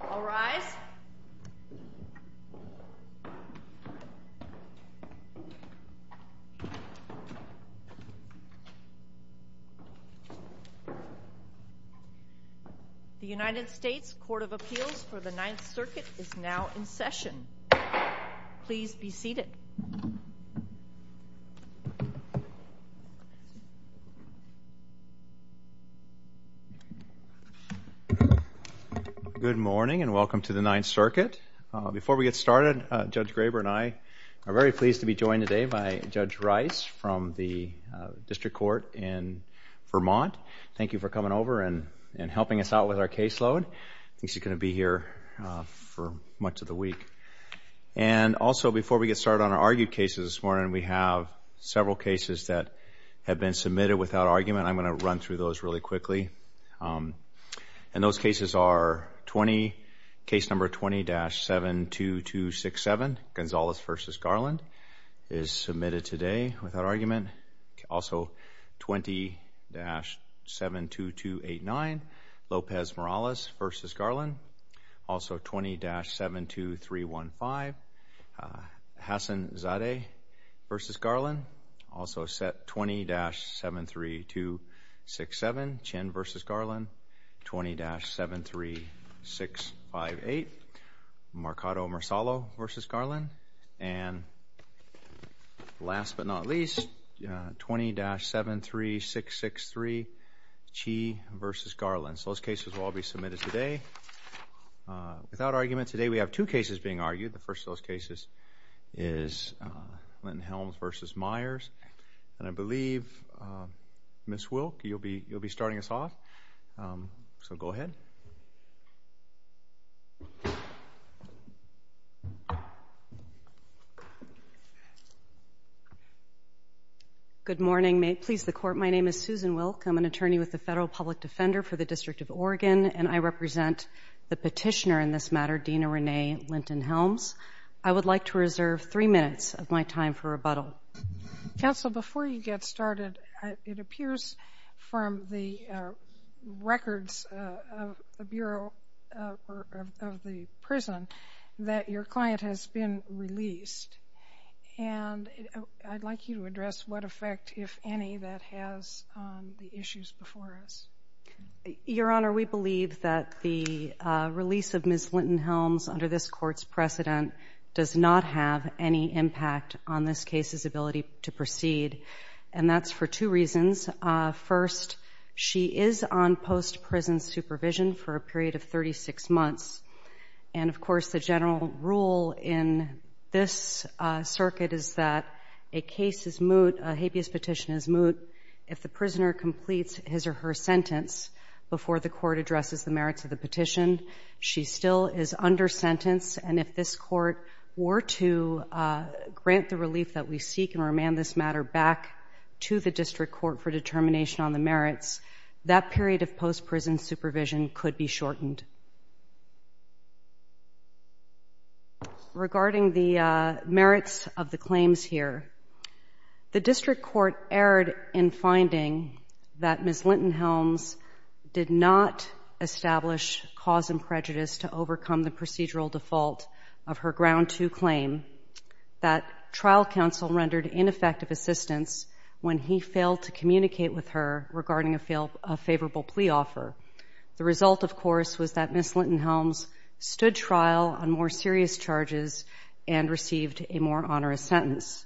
All rise. The United States Court of Appeals for the Ninth Circuit is now in session. Please be seated. Good morning and welcome to the Ninth Circuit. Before we get started, Judge Graber and I are very pleased to be joined today by Judge Rice from the District Court in Vermont. Thank you for coming over and helping us out with our caseload. I think she's going to be here for much of the week. And also, before we get started on our argued cases this morning, we have several cases that have been submitted without argument. I'm going to run through those really quickly. And those cases are 20, case number 20-72267, Gonzalez v. Garland, is submitted today without argument. Also, 20-72289, Lopez Morales v. Garland. Also, 20-72315, Hassan Zadeh v. Garland. Also, set 20-73267, Chen v. Garland. 20-73658, Marcado Marsalo v. Garland. And last but not least, 20-73663, Chee v. Garland. So those cases will all be submitted today without argument. Today we have two cases being argued. The first of those cases is Linton-Helms v. Myers. And I believe, Ms. Wilk, you'll be starting us off. So go ahead. Good morning. May it please the Court, my name is Susan Wilk. I'm an attorney with the Federal Public Defender for the District of Oregon, and I represent the petitioner in this matter, Dena Renee Linton-Helms. I would like to reserve three minutes of my time for rebuttal. Counsel, before you get started, it appears from the records of the Bureau of the Prison that your client has been released. And I'd like you to address what effect, if any, that has on the issues before us. Your Honor, we believe that the release of Ms. Linton-Helms under this Court's precedent does not have any impact on this case's ability to proceed, and that's for two reasons. First, she is on post-prison supervision for a period of 36 months. And, of course, the general rule in this circuit is that a case is moot, a habeas petition is moot, if the prisoner completes his or her sentence before the Court addresses the merits of the petition. She still is under sentence, and if this Court were to grant the relief that we seek and remand this matter back to the District Court for determination on the merits, that period of post-prison supervision could be shortened. Regarding the merits of the claims here, the District Court erred in finding that Ms. Linton-Helms did not establish cause and prejudice to overcome the procedural default of her Ground 2 claim, that trial counsel rendered ineffective assistance when he failed to communicate with her regarding a favorable plea offer. The result, of course, was that Ms. Linton-Helms stood trial on more serious charges and received a more onerous sentence.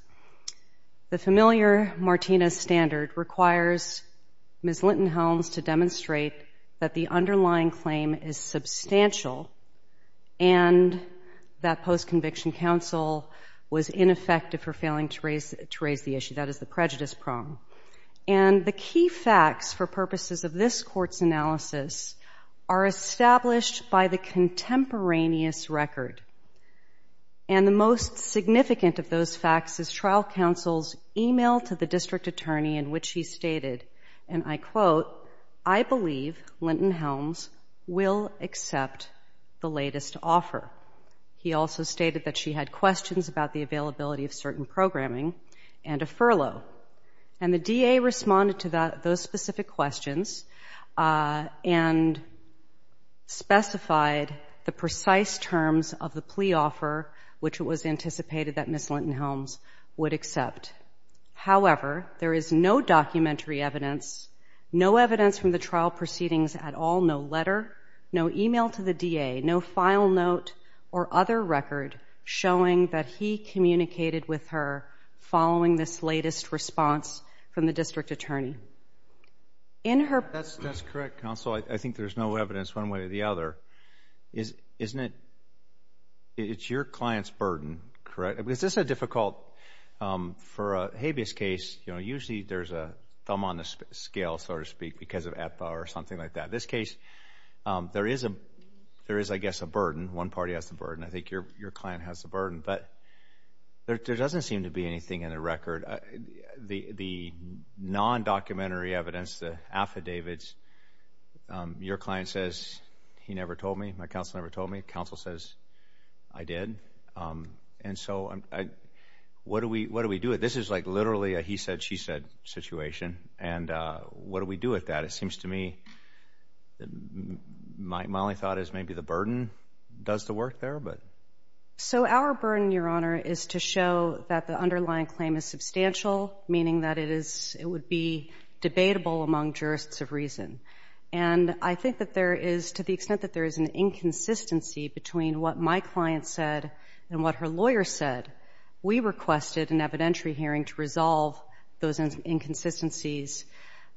The familiar Martinez standard requires Ms. Linton-Helms to demonstrate that the underlying claim is substantial and that post-conviction counsel was ineffective for failing to raise the issue. That is the prejudice prong. And the key facts for purposes of this Court's analysis are established by the contemporaneous record. And the most significant of those facts is trial counsel's email to the District Attorney in which he stated, and I quote, I believe Linton-Helms will accept the latest offer. He also stated that she had questions about the availability of certain programming and a furlough. And the DA responded to those specific questions and specified the precise terms of the plea offer, which it was anticipated that Ms. Linton-Helms would accept. However, there is no documentary evidence, no evidence from the trial proceedings at all, no letter, no email to the DA, no file note or other record showing that he communicated with her following this latest response from the District Attorney. That's correct, Counsel. I think there's no evidence one way or the other. Isn't it your client's burden, correct? Is this a difficult, for a habeas case, you know, usually there's a thumb on the scale, so to speak, because of EPA or something like that. This case, there is, I guess, a burden. One party has the burden. I think your client has the burden. But there doesn't seem to be anything in the record. The non-documentary evidence, the affidavits, your client says he never told me. My counsel never told me. Counsel says I did. And so what do we do? This is like literally a he said, she said situation. And what do we do with that? It seems to me my only thought is maybe the burden does the work there. So our burden, Your Honor, is to show that the underlying claim is substantial, meaning that it is, it would be debatable among jurists of reason. And I think that there is, to the extent that there is an inconsistency between what my client said and what her lawyer said, we requested an evidentiary hearing to resolve those inconsistencies.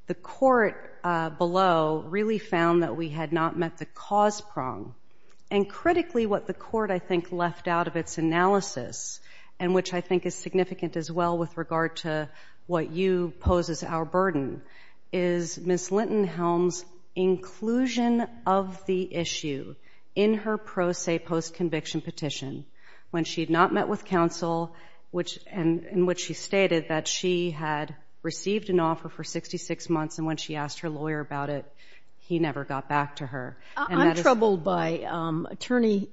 The court below really found that we had not met the cause prong. And critically, what the court, I think, left out of its analysis, and which I think is significant as well with regard to what you pose as our burden, is Ms. Linton-Helm's inclusion of the issue in her pro se post-conviction petition when she had not met with counsel, in which she stated that she had received an offer for 66 months and when she asked her lawyer about it, he never got back to her. I'm troubled by Attorney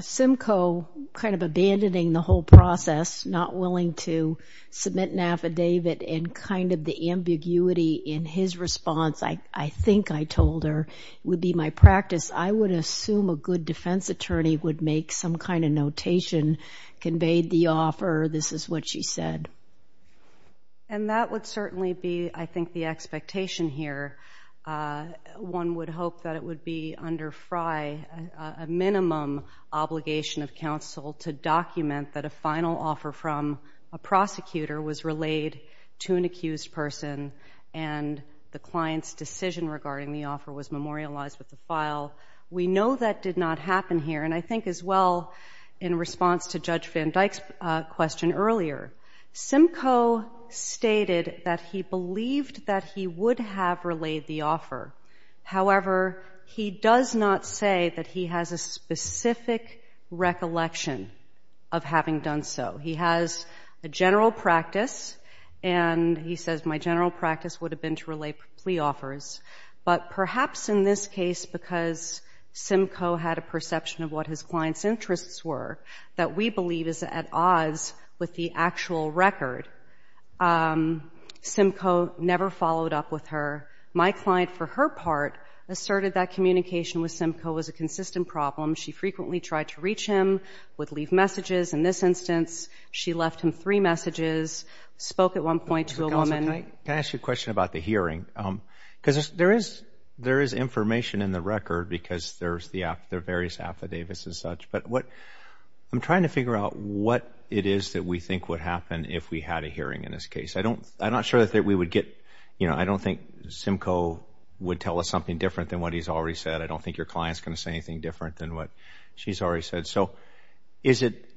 Simcoe kind of abandoning the whole process, not willing to submit an affidavit, and kind of the ambiguity in his response. I think I told her it would be my practice. I would assume a good defense attorney would make some kind of notation, conveyed the offer, this is what she said. And that would certainly be, I think, the expectation here. One would hope that it would be under FRI a minimum obligation of counsel to document that a final offer from a prosecutor was relayed to an accused person and the client's decision regarding the offer was memorialized with a file. We know that did not happen here. And I think as well, in response to Judge Van Dyck's question earlier, Simcoe stated that he believed that he would have relayed the offer. However, he does not say that he has a specific recollection of having done so. He has a general practice and he says, my general practice would have been to relay plea offers. But perhaps in this case, because Simcoe had a perception of what his client's interests were, that we believe is at odds with the actual record. Simcoe never followed up with her. My client, for her part, asserted that communication with Simcoe was a consistent problem. She frequently tried to reach him, would leave messages. In this instance, she left him three messages, spoke at one point to a woman. Can I ask you a question about the hearing? Because there is information in the record because there are various affidavits and such. But I'm trying to figure out what it is that we think would happen if we had a hearing in this case. I'm not sure that we would get, you know, I don't think Simcoe would tell us something different than what he's already said. I don't think your client's going to say anything different than what she's already said. So is it,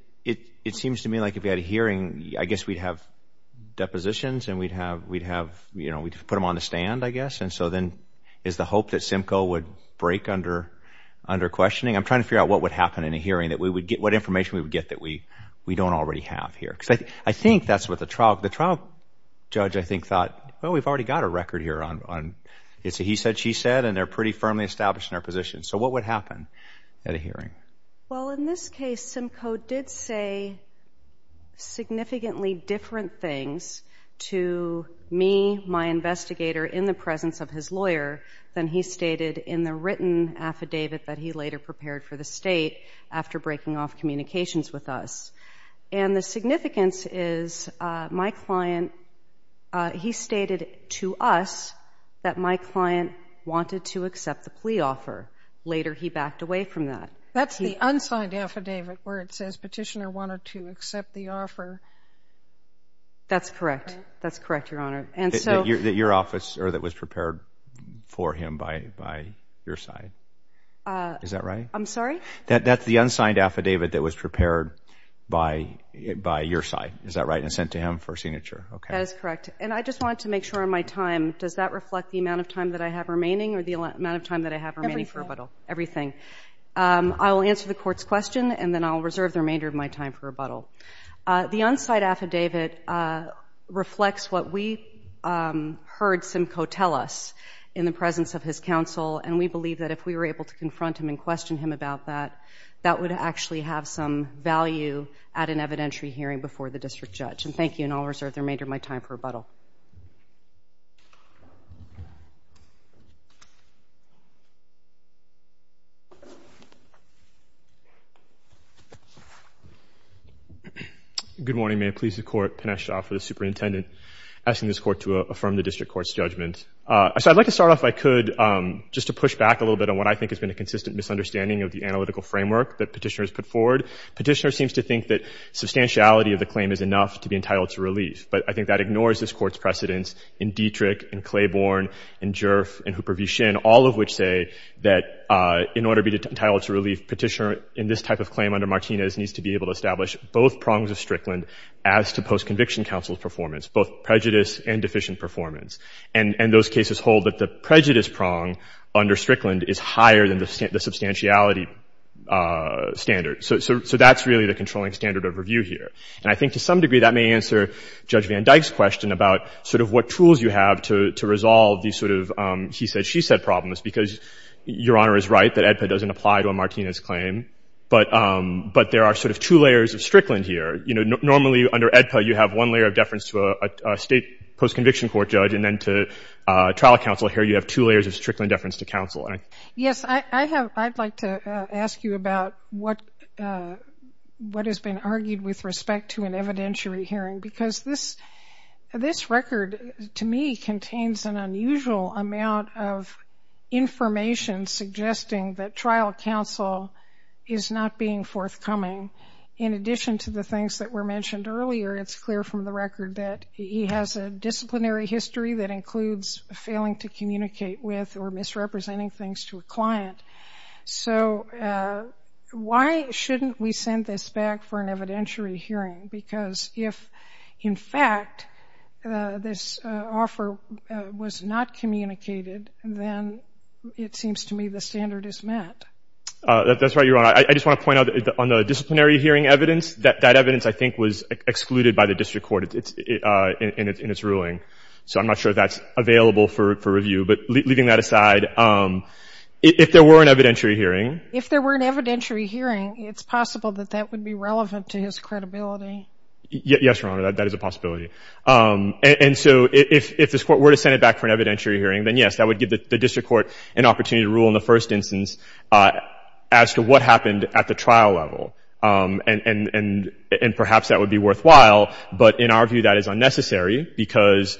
it seems to me like if we had a hearing, I guess we'd have depositions and we'd have, you know, we'd put them on the stand, I guess. And so then is the hope that Simcoe would break under questioning? I'm trying to figure out what would happen in a hearing that we would get, what information we would get that we don't already have here. Because I think that's what the trial judge, I think, thought. Well, we've already got a record here on it's a he said, she said, and they're pretty firmly established in our position. So what would happen at a hearing? Well, in this case, Simcoe did say significantly different things to me, my investigator, in the presence of his lawyer than he stated in the written affidavit that he later prepared for the state after breaking off communications with us. And the significance is my client, he stated to us that my client wanted to accept the plea offer. Later, he backed away from that. That's the unsigned affidavit where it says petitioner wanted to accept the offer. That's correct. That's correct, Your Honor. That your officer that was prepared for him by your side. Is that right? I'm sorry? That's the unsigned affidavit that was prepared by your side. Is that right? And sent to him for signature. That is correct. And I just wanted to make sure on my time, does that reflect the amount of time that I have remaining or the amount of time that I have remaining for rebuttal? Everything. Everything. I will answer the court's question, and then I'll reserve the remainder of my time for rebuttal. The unsigned affidavit reflects what we heard Simcoe tell us in the presence of his counsel, and we believe that if we were able to confront him and question him about that, that would actually have some value at an evidentiary hearing before the district judge. And thank you, and I'll reserve the remainder of my time for rebuttal. Good morning. May it please the court, Pinesh Jha for the superintendent, asking this court to affirm the district court's judgment. So I'd like to start off, if I could, just to push back a little bit on what I think has been a consistent misunderstanding of the analytical framework that Petitioner has put forward. Petitioner seems to think that substantiality of the claim is enough to be entitled to relief, but I think that ignores this court's precedence in Dietrich and Claiborne and Jurf and Hooper v. Shinn, all of which say that in order to be entitled to relief, Petitioner in this type of claim under Martinez needs to be able to establish both prongs of Strickland as to post-conviction counsel's performance, both prejudice and deficient performance. And those cases hold that the prejudice prong under Strickland is higher than the substantiality standard. So that's really the controlling standard of review here. And I think to some degree that may answer Judge Van Dyke's question about sort of what tools you have to resolve these sort of he said, she said problems, because Your Honor is right that AEDPA doesn't apply to a Martinez claim, but there are sort of two layers of Strickland here. You know, normally under AEDPA you have one layer of deference to a state post-conviction court judge, and then to trial counsel here you have two layers of Strickland deference to counsel. Yes, I'd like to ask you about what has been argued with respect to an evidentiary hearing, because this record to me contains an unusual amount of information suggesting that trial counsel is not being forthcoming. In addition to the things that were mentioned earlier, it's clear from the record that he has a disciplinary history that includes failing to communicate with or misrepresenting things to a client. So why shouldn't we send this back for an evidentiary hearing? Because if, in fact, this offer was not communicated, then it seems to me the standard is met. That's right, Your Honor. I just want to point out that on the disciplinary hearing evidence, that evidence I think was excluded by the district court in its ruling. So I'm not sure that's available for review. But leaving that aside, if there were an evidentiary hearing. If there were an evidentiary hearing, it's possible that that would be relevant to his credibility. Yes, Your Honor, that is a possibility. And so if this Court were to send it back for an evidentiary hearing, then, yes, that would give the district court an opportunity to rule in the first instance as to what happened at the trial level. And perhaps that would be worthwhile, but in our view that is unnecessary because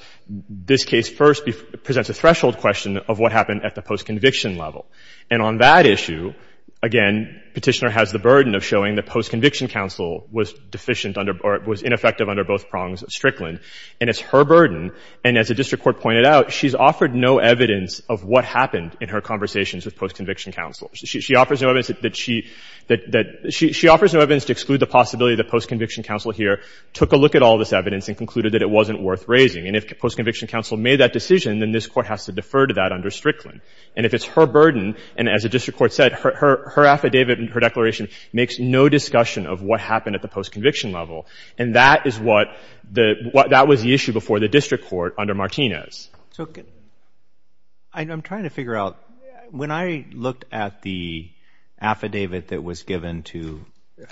this case first presents a threshold question of what happened at the post-conviction level. And on that issue, again, Petitioner has the burden of showing that post-conviction counsel was deficient under or was ineffective under both prongs of Strickland. And it's her burden. And as the district court pointed out, she's offered no evidence of what happened in her conversations with post-conviction counsel. She offers no evidence that she — that she offers no evidence to exclude the possibility that post-conviction counsel here took a look at all this evidence and concluded that it wasn't worth raising. And if post-conviction counsel made that decision, then this Court has to defer to that under Strickland. And if it's her burden, and as the district court said, her affidavit and her declaration makes no discussion of what happened at the post-conviction level. And that is what the — that was the issue before the district court under Martinez. So I'm trying to figure out, when I looked at the affidavit that was given to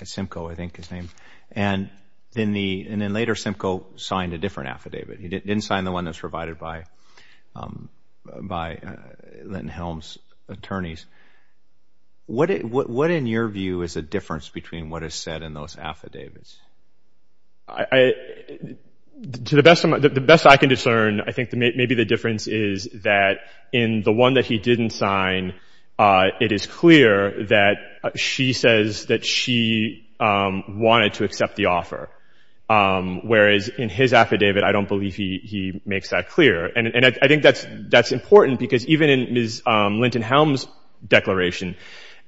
Simcoe, I think his name, and then the — and then later Simcoe signed a different affidavit. He didn't sign the one that's provided by Linton-Helms' attorneys. What in your view is the difference between what is said in those affidavits? I — to the best of my — the best I can discern, I think maybe the difference is that in the one that he didn't sign, it is clear that she says that she wanted to accept the offer, whereas in his affidavit, I don't believe he makes that clear. And I think that's — that's important, because even in Ms. Linton-Helms' declaration,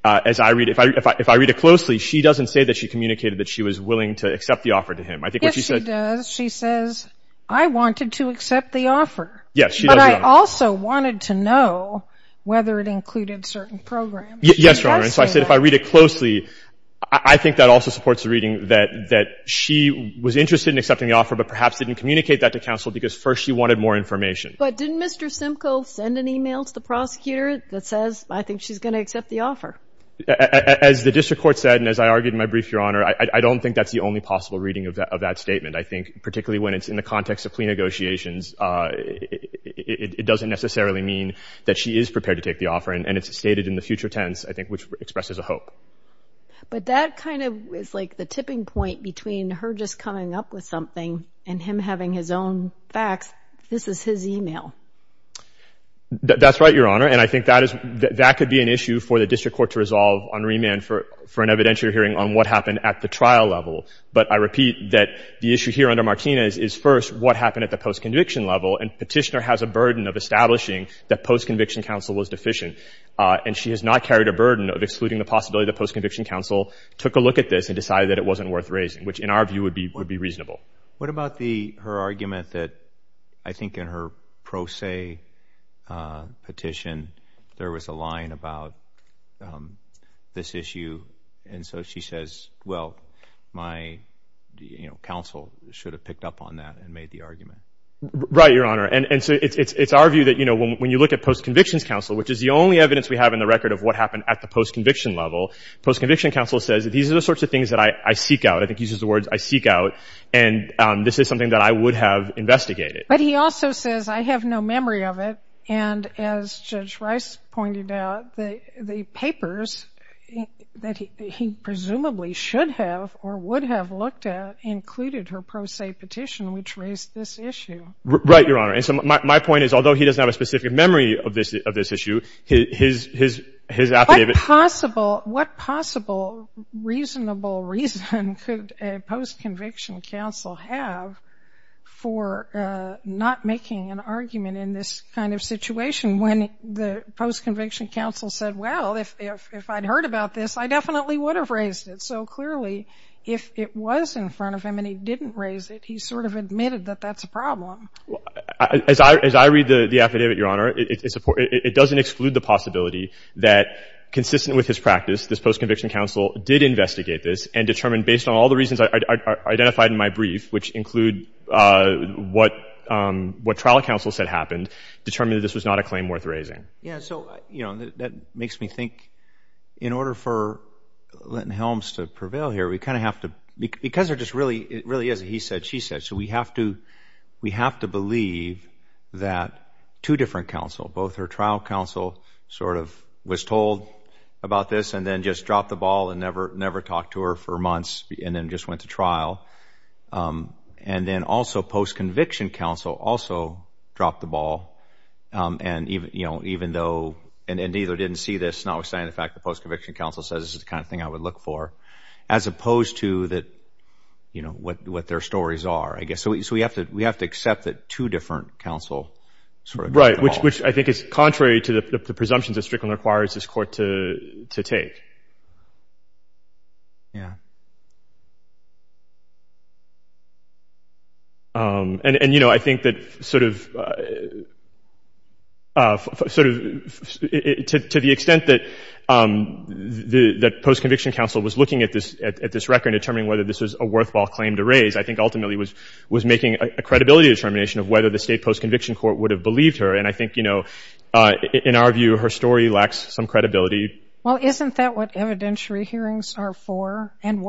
as I read — if I — if I read it closely, she doesn't say that she communicated that she was willing to accept the offer to him. I think what she said — Yes, she does. She says, I wanted to accept the offer. Yes, she does. But I also wanted to know whether it included certain programs. Yes, Your Honor. And so I said, if I read it closely, I think that also supports the reading that she was interested in accepting the offer, but perhaps didn't communicate that to counsel because, first, she wanted more information. But didn't Mr. Simcoe send an email to the prosecutor that says, I think she's going to accept the offer? As the district court said, and as I argued in my brief, Your Honor, I don't think that's the only possible reading of that statement. I think particularly when it's in the context of plea negotiations, it doesn't necessarily mean that she is prepared to take the offer, and it's stated in the future tense, I think, which expresses a hope. But that kind of is like the tipping point between her just coming up with something and him having his own facts. This is his email. That's right, Your Honor. And I think that could be an issue for the district court to resolve on remand for an evidentiary hearing on what happened at the trial level. But I repeat that the issue here under Martinez is, first, what happened at the post-conviction level, and Petitioner has a burden of establishing that post-conviction counsel was deficient. And she has not carried a burden of excluding the possibility that post-conviction counsel took a look at this and decided that it wasn't worth raising, which in our view would be reasonable. What about her argument that I think in her pro se petition there was a line about this issue? And so she says, well, my counsel should have picked up on that and made the argument. Right, Your Honor. And so it's our view that when you look at post-conviction counsel, which is the only evidence we have in the record of what happened at the post-conviction level, post-conviction counsel says that these are the sorts of things that I seek out, I think uses the words I seek out, and this is something that I would have investigated. But he also says I have no memory of it, and as Judge Rice pointed out, the papers that he presumably should have or would have looked at included her pro se petition, which raised this issue. Right, Your Honor. And so my point is although he doesn't have a specific memory of this issue, his affidavit. What possible reasonable reason could a post-conviction counsel have for not making an argument in this kind of situation when the post-conviction counsel said, well, if I'd heard about this, I definitely would have raised it. So clearly if it was in front of him and he didn't raise it, he sort of admitted that that's a problem. As I read the affidavit, Your Honor, it doesn't exclude the possibility that consistent with his practice, this post-conviction counsel did investigate this and determined based on all the reasons identified in my brief, which include what trial counsel said happened, determined that this was not a claim worth raising. Yeah, so, you know, that makes me think in order for Linton Helms to prevail here, we kind of have to, because there just really is a he said, she said, so we have to believe that two different counsel, both her trial counsel sort of was told about this and then just dropped the ball and never talked to her for months and then just went to trial. And then also post-conviction counsel also dropped the ball. And, you know, even though and neither didn't see this, notwithstanding the fact the post-conviction counsel says this is the kind of thing I would look for, as opposed to what their stories are, I guess. So we have to accept that two different counsel sort of dropped the ball. Right, which I think is contrary to the presumptions that Strickland requires this court to take. Yeah. And, you know, I think that sort of to the extent that post-conviction counsel was looking at this record and determining whether this was a worthwhile claim to raise, I think ultimately was making a credibility determination of whether the state post-conviction court would have believed her. And I think, you know, in our view, her story lacks some credibility. Well, isn't that what evidentiary hearings are for? And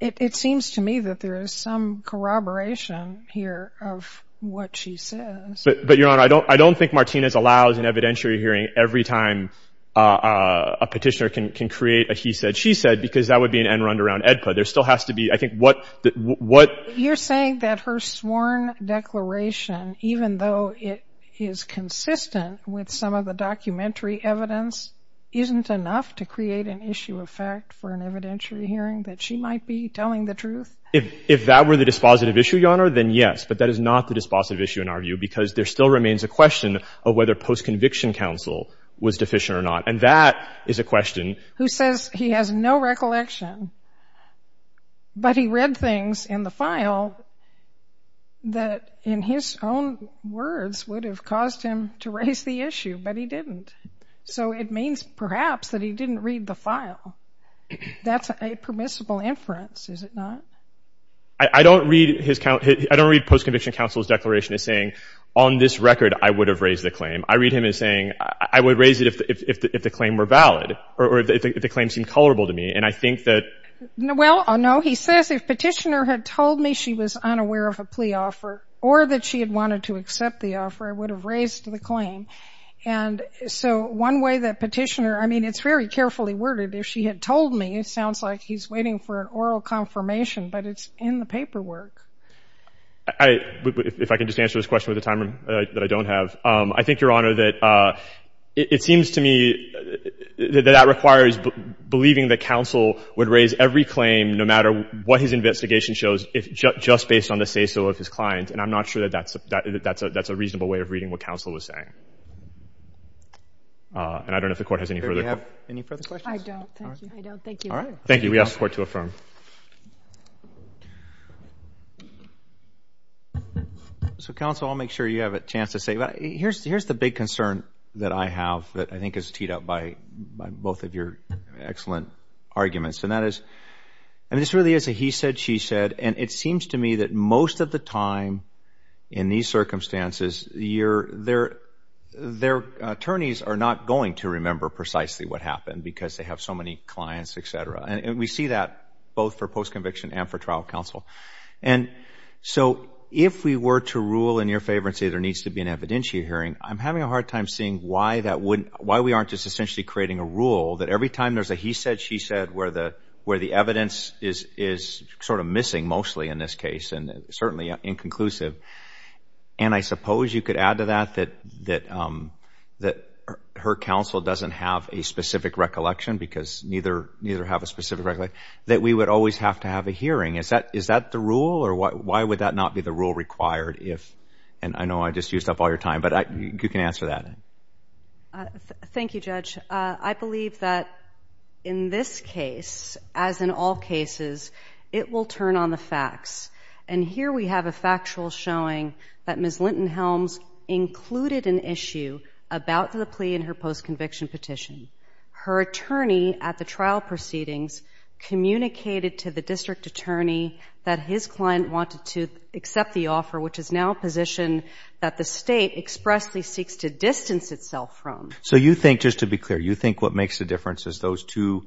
it seems to me that there is some corroboration here of what she says. But, Your Honor, I don't think Martinez allows an evidentiary hearing every time a petitioner can create a he said, because that would be an end-run around AEDPA. There still has to be, I think, what — You're saying that her sworn declaration, even though it is consistent with some of the documentary evidence, isn't enough to create an issue of fact for an evidentiary hearing that she might be telling the truth? If that were the dispositive issue, Your Honor, then yes. But that is not the dispositive issue in our view, because there still remains a question of whether post-conviction counsel was deficient or not. And that is a question — Who says he has no recollection, but he read things in the file that, in his own words, would have caused him to raise the issue, but he didn't. So it means, perhaps, that he didn't read the file. That's a permissible inference, is it not? I don't read his — I don't read post-conviction counsel's declaration as saying, on this record, I would have raised the claim. I read him as saying, I would raise it if the claim were valid, or if the claim seemed colorable to me. And I think that — Well, no, he says, if Petitioner had told me she was unaware of a plea offer or that she had wanted to accept the offer, I would have raised the claim. And so one way that Petitioner — I mean, it's very carefully worded. If she had told me, it sounds like he's waiting for an oral confirmation, but it's in the paperwork. If I can just answer this question with a timer that I don't have. I think, Your Honor, that it seems to me that that requires believing that counsel would raise every claim, no matter what his investigation shows, just based on the say-so of his client. And I'm not sure that that's a reasonable way of reading what counsel was saying. And I don't know if the Court has any further questions. Do you have any further questions? I don't. I don't. Thank you. Thank you. We ask the Court to affirm. Thank you. So, counsel, I'll make sure you have a chance to say. Here's the big concern that I have that I think is teed up by both of your excellent arguments. And that is, I mean, this really is a he said, she said. And it seems to me that most of the time in these circumstances, their attorneys are not going to remember precisely what happened because they have so many clients, et cetera. And we see that both for post-conviction and for trial counsel. And so if we were to rule in your favor and say there needs to be an evidentiary hearing, I'm having a hard time seeing why we aren't just essentially creating a rule that every time there's a he said, she said where the evidence is sort of missing mostly in this case and certainly inconclusive. And I suppose you could add to that that her counsel doesn't have a specific recollection because neither have a specific recollection that we would always have to have a hearing. Is that the rule or why would that not be the rule required if, and I know I just used up all your time, but you can answer that. Thank you, Judge. I believe that in this case, as in all cases, it will turn on the facts. And here we have a factual showing that Ms. Linton-Helms included an issue about the plea in her post-conviction petition. Her attorney at the trial proceedings communicated to the district attorney that his client wanted to accept the offer, which is now a position that the state expressly seeks to distance itself from. So you think, just to be clear, you think what makes the difference is those two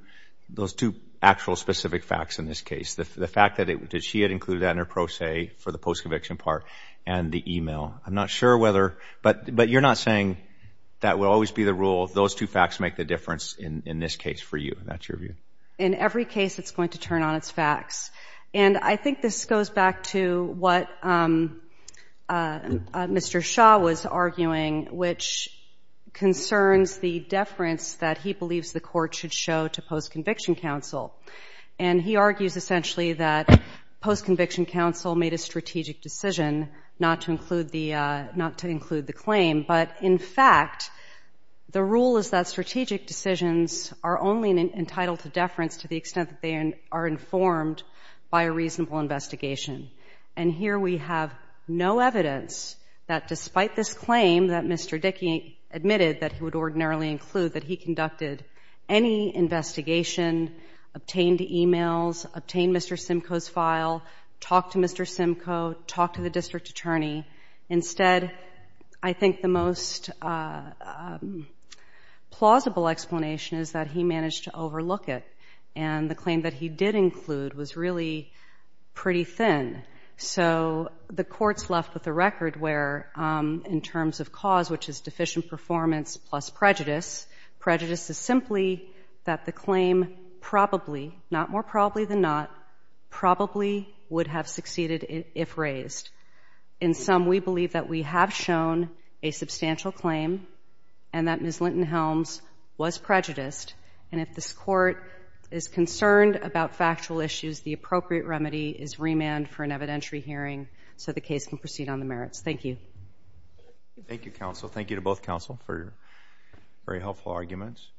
actual specific facts in this case, the fact that she had included that in her pro se for the post-conviction part and the e-mail. I'm not sure whether, but you're not saying that will always be the rule, those two facts make the difference in this case for you. Is that your view? In every case, it's going to turn on its facts. And I think this goes back to what Mr. Shaw was arguing, which concerns the deference that he believes the court should show to post-conviction counsel. And he argues essentially that post-conviction counsel made a strategic decision not to include the claim, but in fact the rule is that strategic decisions are only entitled to deference to the extent that they are informed by a reasonable investigation. And here we have no evidence that despite this claim that Mr. Dickey admitted that he would ordinarily include, that he conducted any investigation, obtained e-mails, obtained Mr. Simcoe's file, talked to Mr. Simcoe, talked to the district attorney. Instead, I think the most plausible explanation is that he managed to overlook it. And the claim that he did include was really pretty thin. So the court's left with a record where, in terms of cause, which is deficient performance plus prejudice, prejudice is simply that the claim probably, not more probably than not, probably would have succeeded if raised. In sum, we believe that we have shown a substantial claim and that Ms. Linton-Helms was prejudiced. And if this court is concerned about factual issues, the appropriate remedy is remand for an evidentiary hearing so the case can proceed on the merits. Thank you. Thank you, counsel. Thank you to both counsel for your very helpful arguments.